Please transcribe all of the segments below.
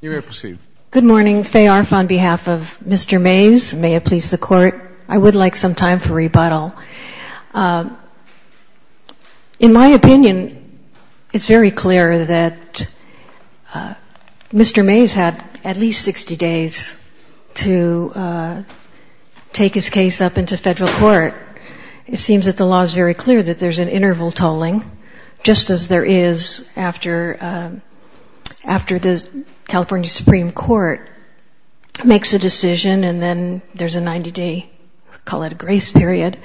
You may proceed. Good morning. Faye Arf on behalf of Mr. Maes. May it please the Court, I would like some time for rebuttal. In my opinion, it's very clear that Mr. Maes had at least 60 days to take his case up into federal court. It seems that the law is very clear that there's an interval tolling, just as there is after the California Supreme Court makes a decision and then there's a 90-day, call it a grace period.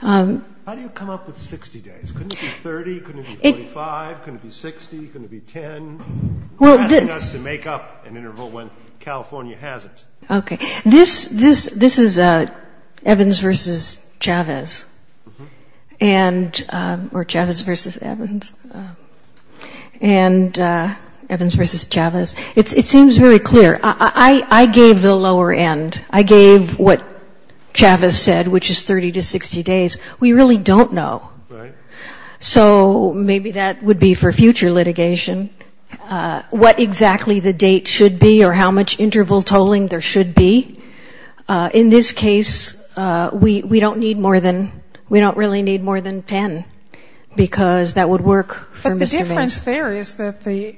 How do you come up with 60 days? Couldn't it be 30? Couldn't it be 45? Couldn't it be 60? Couldn't it be 10? You're asking us to make up an interval when California hasn't. Okay. This is Evans v. Chavez. And or Chavez v. Evans. And Evans v. Chavez. It seems very clear. I gave the lower end. I gave what Chavez said, which is 30 to 60 days. We really don't know. Right. So maybe that would be for future litigation, what exactly the date should be or how much interval tolling there should be. In this case, we don't need more than we don't really need more than 10 because that would work for Mr. Maes. But the difference there is that the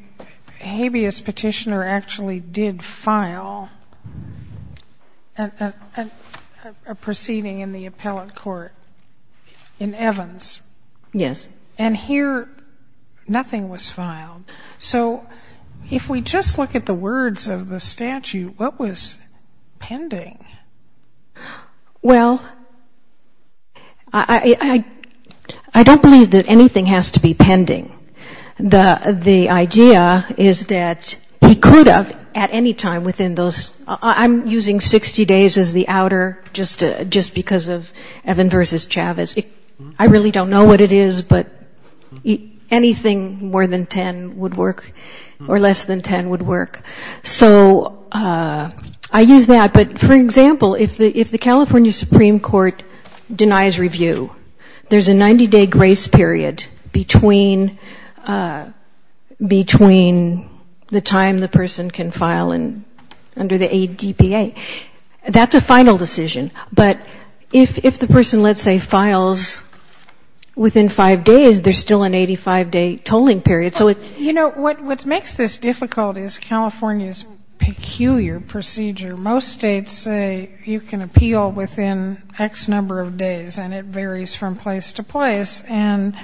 habeas petitioner actually did file a proceeding in the appellate court in Evans. Yes. And here nothing was filed. So if we just look at the words of the statute, what was pending? Well, I don't believe that anything has to be pending. The idea is that he could have at any time within those, I'm using 60 days as the outer just because of Evans v. Chavez. I really don't know what it is, but anything more than 10 would work or less than 10 would work. So I use that. But, for example, if the California Supreme Court denies review, there's a 90-day grace period between the time the person can file under the ADPA. That's a final decision. But if the person, let's say, files within five days, there's still an 85-day tolling period. You know, what makes this difficult is California's peculiar procedure. Most states say you can appeal within X number of days, and it varies from place to place. And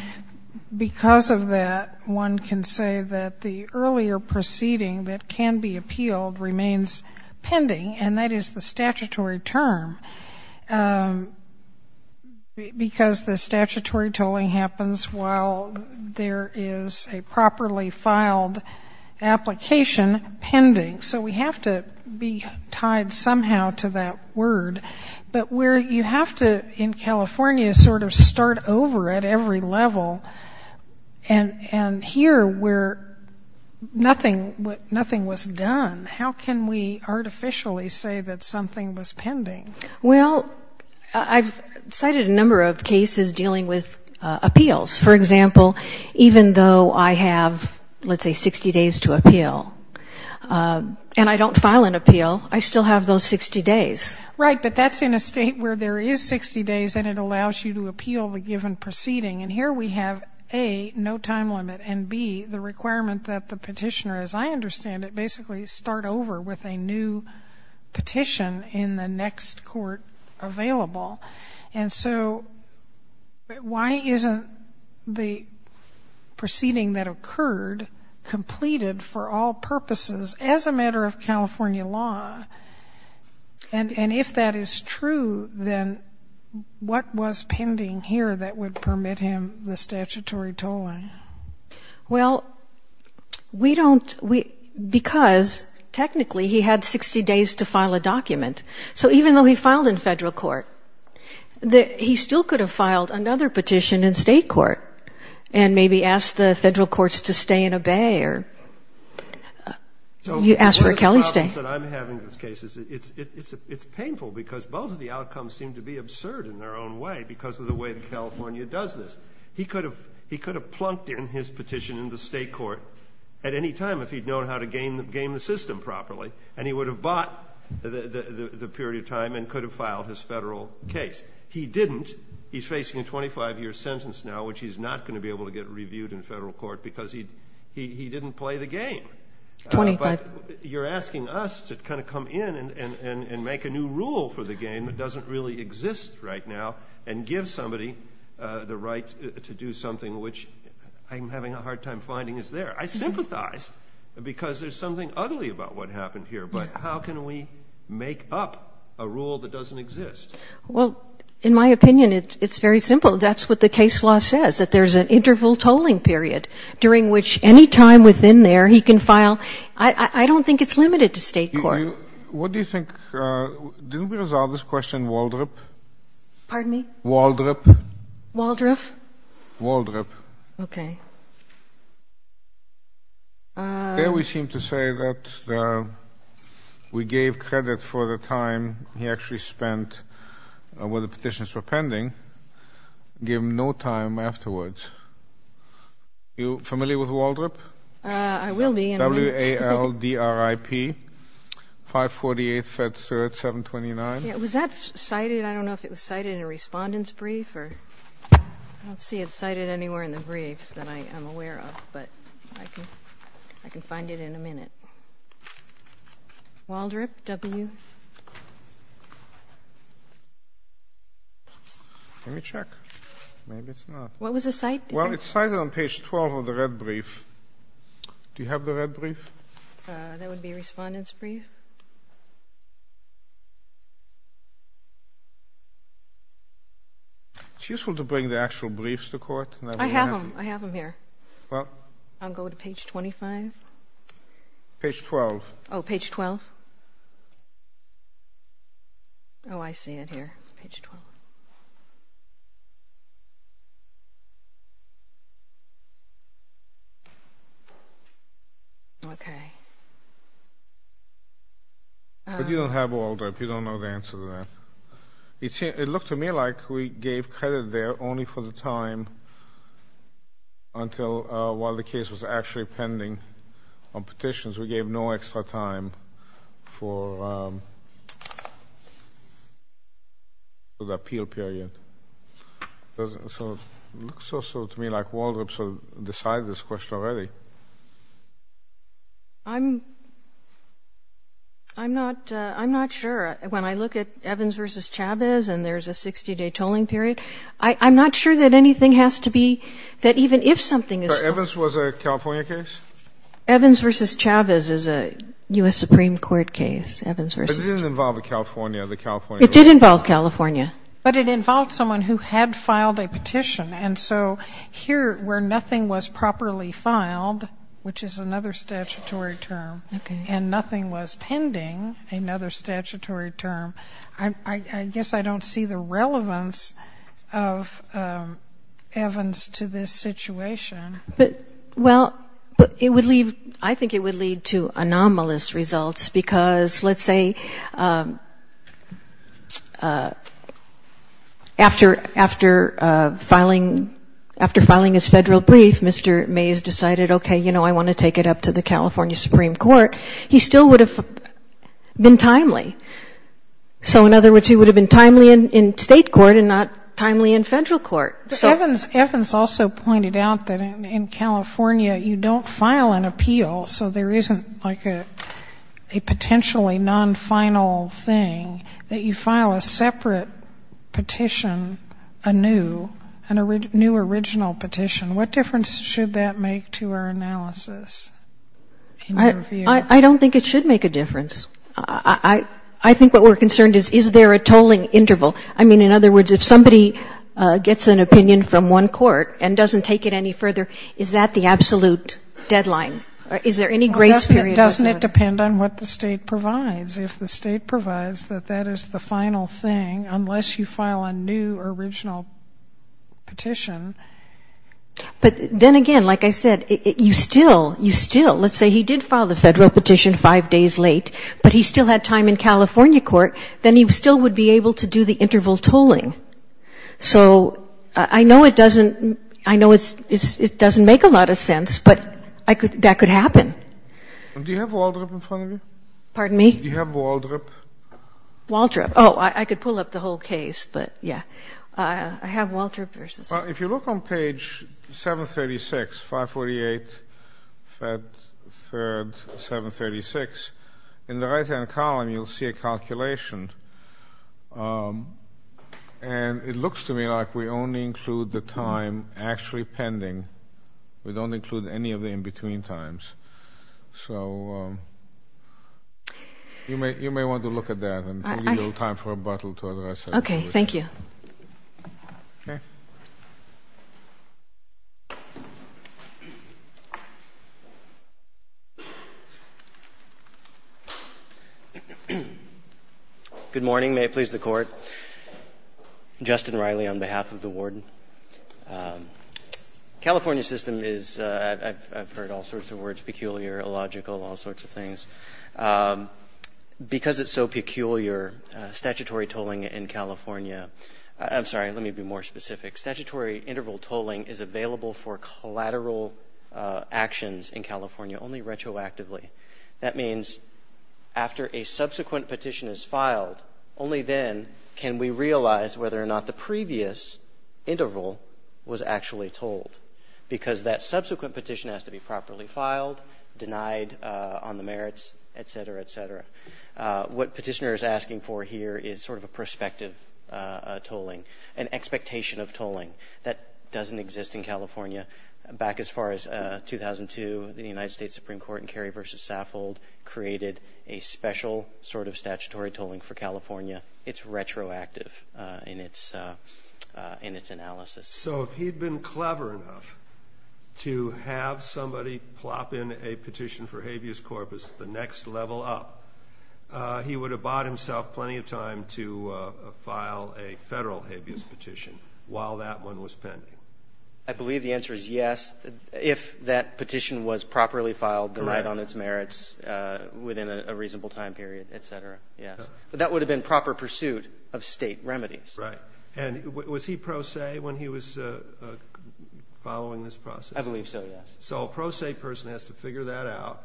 because of that, one can say that the earlier proceeding that can be appealed remains pending, and that is the statutory term, because the statutory tolling happens while there is a properly filed application pending. So we have to be tied somehow to that word. But where you have to, in California, sort of start over at every level, and here where nothing was done, how can we artificially say that something was pending? Well, I've cited a number of cases dealing with appeals. For example, even though I have, let's say, 60 days to appeal, and I don't file an appeal, I still have those 60 days. Right, but that's in a state where there is 60 days, and it allows you to appeal the given proceeding. And here we have, A, no time limit, and, B, the requirement that the petitioner, as I understand it, basically start over with a new petition in the next court available. And so why isn't the proceeding that occurred completed for all purposes as a matter of California law? And if that is true, then what was pending here that would permit him the statutory tolling? Well, we don't, because technically he had 60 days to file a document. So even though he filed in federal court, he still could have filed another petition in state court and maybe asked the federal courts to stay and obey or asked for a Kelly stay. So one of the problems that I'm having with this case is it's painful because both of the outcomes seem to be absurd in their own way because of the way that California does this. He could have plunked in his petition in the state court at any time if he'd known how to game the system properly, and he would have bought the period of time and could have filed his federal case. He didn't. He's facing a 25-year sentence now, which he's not going to be able to get reviewed in federal court because he didn't play the game. Twenty-five. But you're asking us to kind of come in and make a new rule for the game that doesn't really exist right now and give somebody the right to do something, which I'm having a hard time finding is there. I sympathize because there's something ugly about what happened here, but how can we make up a rule that doesn't exist? Well, in my opinion, it's very simple. That's what the case law says, that there's an interval tolling period during which any time within there he can file. I don't think it's limited to state court. What do you think? Didn't we resolve this question in Waldrop? Pardon me? Waldrop. Waldrop? Waldrop. Okay. There we seem to say that we gave credit for the time he actually spent where the petitions were pending, gave him no time afterwards. Are you familiar with Waldrop? I will be. W-A-L-D-R-I-P, 548 Fetzerd, 729. Was that cited? I don't know if it was cited in a respondent's brief. I don't see it cited anywhere in the briefs that I am aware of, but I can find it in a minute. Waldrop, W? Let me check. Maybe it's not. What was the site? Well, it's cited on page 12 of the red brief. Do you have the red brief? That would be a respondent's brief. It's useful to bring the actual briefs to court. I have them. I have them here. Well? I'll go to page 25. Page 12. Oh, page 12. Oh, I see it here. Page 12. Okay. But you don't have Waldrop. You don't know the answer to that. It looked to me like we gave credit there only for the time until while the case was actually pending on petitions. We gave no extra time for the appeal period. So it looks also to me like Waldrop has decided this question already. I'm not sure. When I look at Evans v. Chavez and there's a 60-day tolling period, I'm not sure that anything has to be — that even if something is — So Evans was a California case? Evans v. Chavez is a U.S. Supreme Court case. It didn't involve a California. It did involve California. But it involved someone who had filed a petition. And so here where nothing was properly filed, which is another statutory term, and nothing was pending, another statutory term, I guess I don't see the relevance of Evans to this situation. But, well, it would leave — I think it would lead to anomalous results because, let's say, after filing his federal brief, Mr. Mays decided, okay, you know, I want to take it up to the California Supreme Court. He still would have been timely. So in other words, he would have been timely in state court and not timely in federal court. But Evans also pointed out that in California you don't file an appeal, so there isn't like a potentially non-final thing, that you file a separate petition, a new, a new original petition. What difference should that make to our analysis in your view? I don't think it should make a difference. I think what we're concerned is, is there a tolling interval? I mean, in other words, if somebody gets an opinion from one court and doesn't take it any further, is that the absolute deadline? Is there any grace period? Well, doesn't it depend on what the State provides? If the State provides that that is the final thing, unless you file a new original petition. But then again, like I said, you still, you still — let's say he did file the federal petition five days late, but he still had time in California court, then he still would be able to do the interval tolling. So I know it doesn't — I know it's — it doesn't make a lot of sense, but I could — that could happen. Do you have Waldrop in front of you? Pardon me? Do you have Waldrop? Waldrop. Oh, I could pull up the whole case, but yeah. I have Waldrop versus — Well, if you look on page 736, 548, Fed 3rd, 736, in the right-hand column you'll see a calculation. And it looks to me like we only include the time actually pending. We don't include any of the in-between times. So you may want to look at that, and we'll give you time for rebuttal to address it. Okay, thank you. Okay. Good morning. May it please the Court. Justin Riley on behalf of the warden. California system is — I've heard all sorts of words, peculiar, illogical, all sorts of things. Because it's so peculiar, statutory tolling in California — I'm sorry, let me be more specific. Statutory interval tolling is available for collateral actions in California only retroactively. That means after a subsequent petition is filed, only then can we realize whether or not the previous interval was actually tolled. Because that subsequent petition has to be properly filed, denied on the merits, et cetera, et cetera. What Petitioner is asking for here is sort of a prospective tolling, an expectation of tolling that doesn't exist in California. Back as far as 2002, the United States Supreme Court in Cary v. Saffold created a special sort of statutory tolling for California. It's retroactive in its analysis. So if he'd been clever enough to have somebody plop in a petition for habeas corpus the next level up, he would have bought himself plenty of time to file a federal habeas petition while that one was pending. I believe the answer is yes, if that petition was properly filed, denied on its merits within a reasonable time period, et cetera, yes. But that would have been proper pursuit of State remedies. Right. And was he pro se when he was following this process? I believe so, yes. So a pro se person has to figure that out,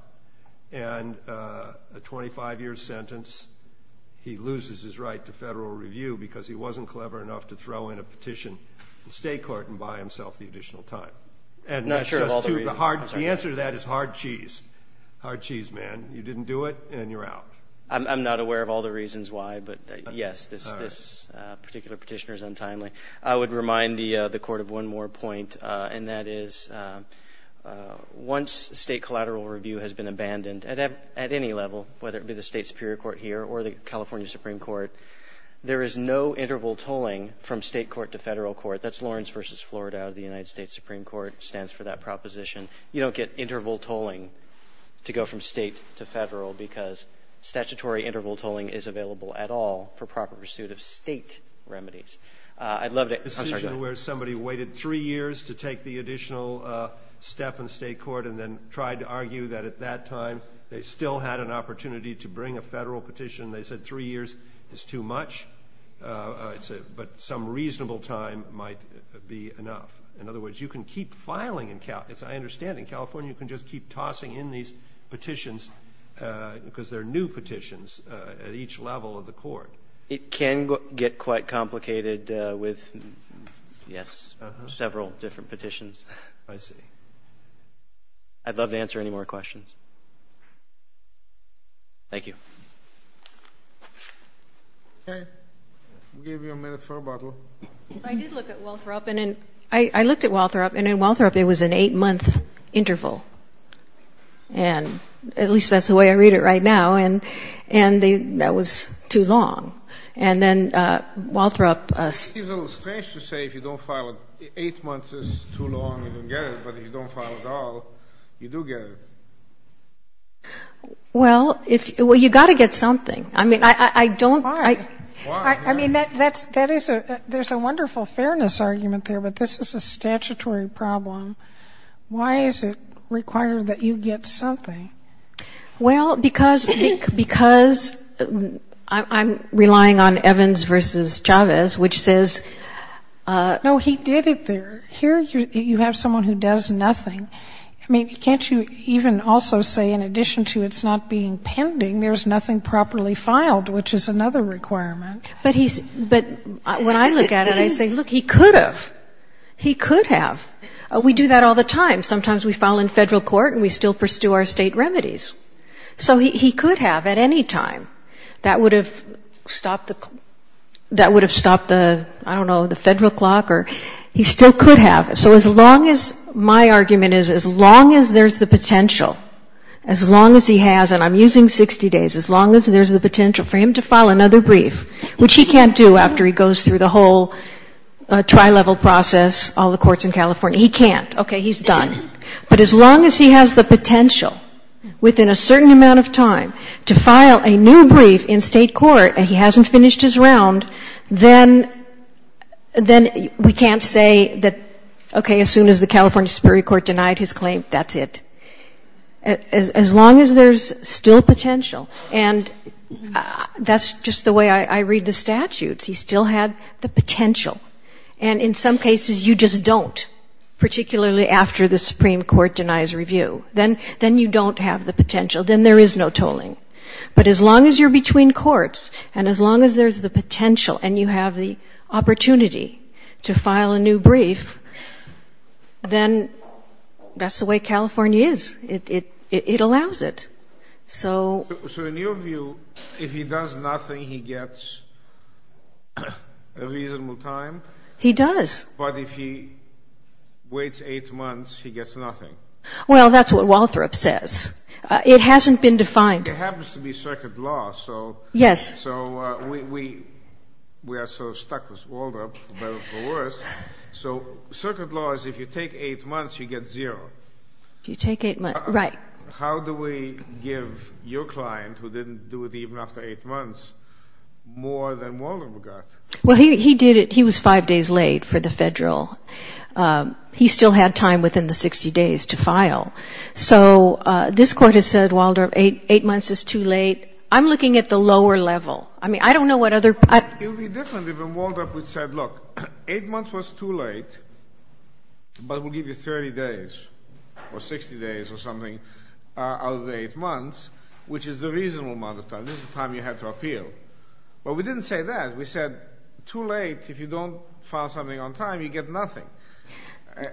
and a 25-year sentence, he loses his right to federal review because he wasn't clever enough to throw in a petition in State court and buy himself the additional time. I'm not sure of all the reasons. The answer to that is hard cheese. Hard cheese, man. You didn't do it, and you're out. I'm not aware of all the reasons why, but, yes, this particular petitioner is untimely. I would remind the Court of one more point, and that is once State collateral review has been abandoned at any level, whether it be the State Superior Court here or the California Supreme Court, there is no interval tolling from State court to federal court. That's Lawrence v. Florida out of the United States Supreme Court, stands for that proposition. You don't get interval tolling to go from State to federal because statutory interval tolling is available at all for proper pursuit of State remedies. I'd love to ---- A decision where somebody waited three years to take the additional step in State court and then tried to argue that at that time they still had an opportunity to bring a federal petition. They said three years is too much, but some reasonable time might be enough. In other words, you can keep filing in California. I understand in California you can just keep tossing in these petitions because they're new petitions at each level of the court. It can get quite complicated with, yes, several different petitions. I see. I'd love to answer any more questions. Thank you. Okay. I'll give you a minute for a bottle. I did look at Walthrop. I looked at Walthrop, and in Walthrop it was an eight-month interval, and at least that's the way I read it right now, and that was too long. And then Walthrop ---- It seems a little strange to say if you don't file it, eight months is too long, you don't get it, but if you don't file at all, you do get it. Well, you've got to get something. I mean, I don't ---- Why? I mean, there's a wonderful fairness argument there, but this is a statutory problem. Why is it required that you get something? Well, because I'm relying on Evans v. Chavez, which says ---- No, he did it there. Here you have someone who does nothing. I mean, can't you even also say in addition to it's not being pending, there's nothing properly filed, which is another requirement? But he's ---- But when I look at it, I say, look, he could have. He could have. We do that all the time. Sometimes we file in Federal court and we still pursue our State remedies. So he could have at any time. That would have stopped the, I don't know, the Federal clock, or he still could have. So as long as my argument is as long as there's the potential, as long as he has, and I'm using 60 days, as long as there's the potential for him to file another brief, which he can't do after he goes through the whole trial-level process, all the courts in California. He can't. Okay. He's done. But as long as he has the potential within a certain amount of time to file a new brief in State court and he hasn't finished his round, then we can't say that, okay, as soon as the California Superior Court denied his claim, that's it. As long as there's still potential, and that's just the way I read the statutes. He still had the potential. And in some cases you just don't, particularly after the Supreme Court denies review. Then you don't have the potential. Then there is no tolling. But as long as you're between courts and as long as there's the potential and you have the opportunity to file a new brief, then that's the way California is. It allows it. So... So in your view, if he does nothing, he gets a reasonable time? He does. But if he waits eight months, he gets nothing? Well, that's what Walthrop says. It hasn't been defined. It happens to be circuit law, so... Yes. So we are sort of stuck with Walthrop, for better or for worse. So circuit law is if you take eight months, you get zero. If you take eight months, right. How do we give your client, who didn't do it even after eight months, more than Walthrop got? Well, he did it. He was five days late for the Federal. He still had time within the 60 days to file. So this Court has said, Walthrop, eight months is too late. I'm looking at the lower level. I mean, I don't know what other... It would be different if in Walthrop we said, look, eight months was too late, but we'll give you 30 days or 60 days or something out of the eight months, which is the reasonable amount of time. This is the time you had to appeal. Well, we didn't say that. We said, too late, if you don't file something on time, you get nothing.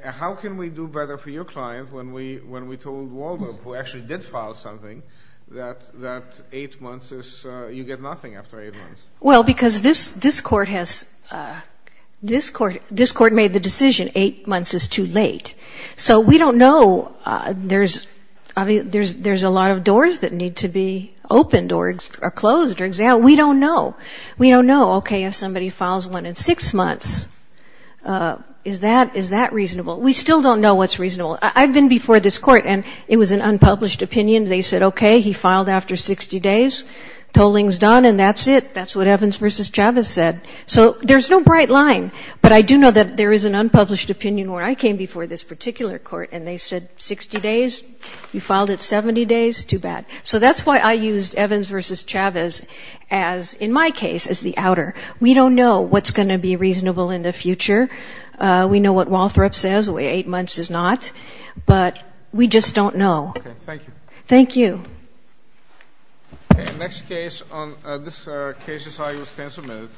How can we do better for your client when we told Walthrop, who actually did file something, that eight months is... you get nothing after eight months? Well, because this Court has... this Court made the decision eight months is too late. So we don't know. There's a lot of doors that need to be opened or closed or exhaled. We don't know. We don't know. Okay, if somebody files one in six months, is that reasonable? We still don't know what's reasonable. I've been before this Court, and it was an unpublished opinion. They said, okay, he filed after 60 days. Tolling's done, and that's it. That's what Evans v. Chavez said. So there's no bright line. But I do know that there is an unpublished opinion where I came before this particular Court, and they said, 60 days? You filed it 70 days? Too bad. So that's why I used Evans v. Chavez as, in my case, as the outer. We don't know what's going to be reasonable in the future. We know what Walthrop says, eight months is not. But we just don't know. Okay, thank you. Thank you. Okay, next case on this case is I.U. Sensor Moot.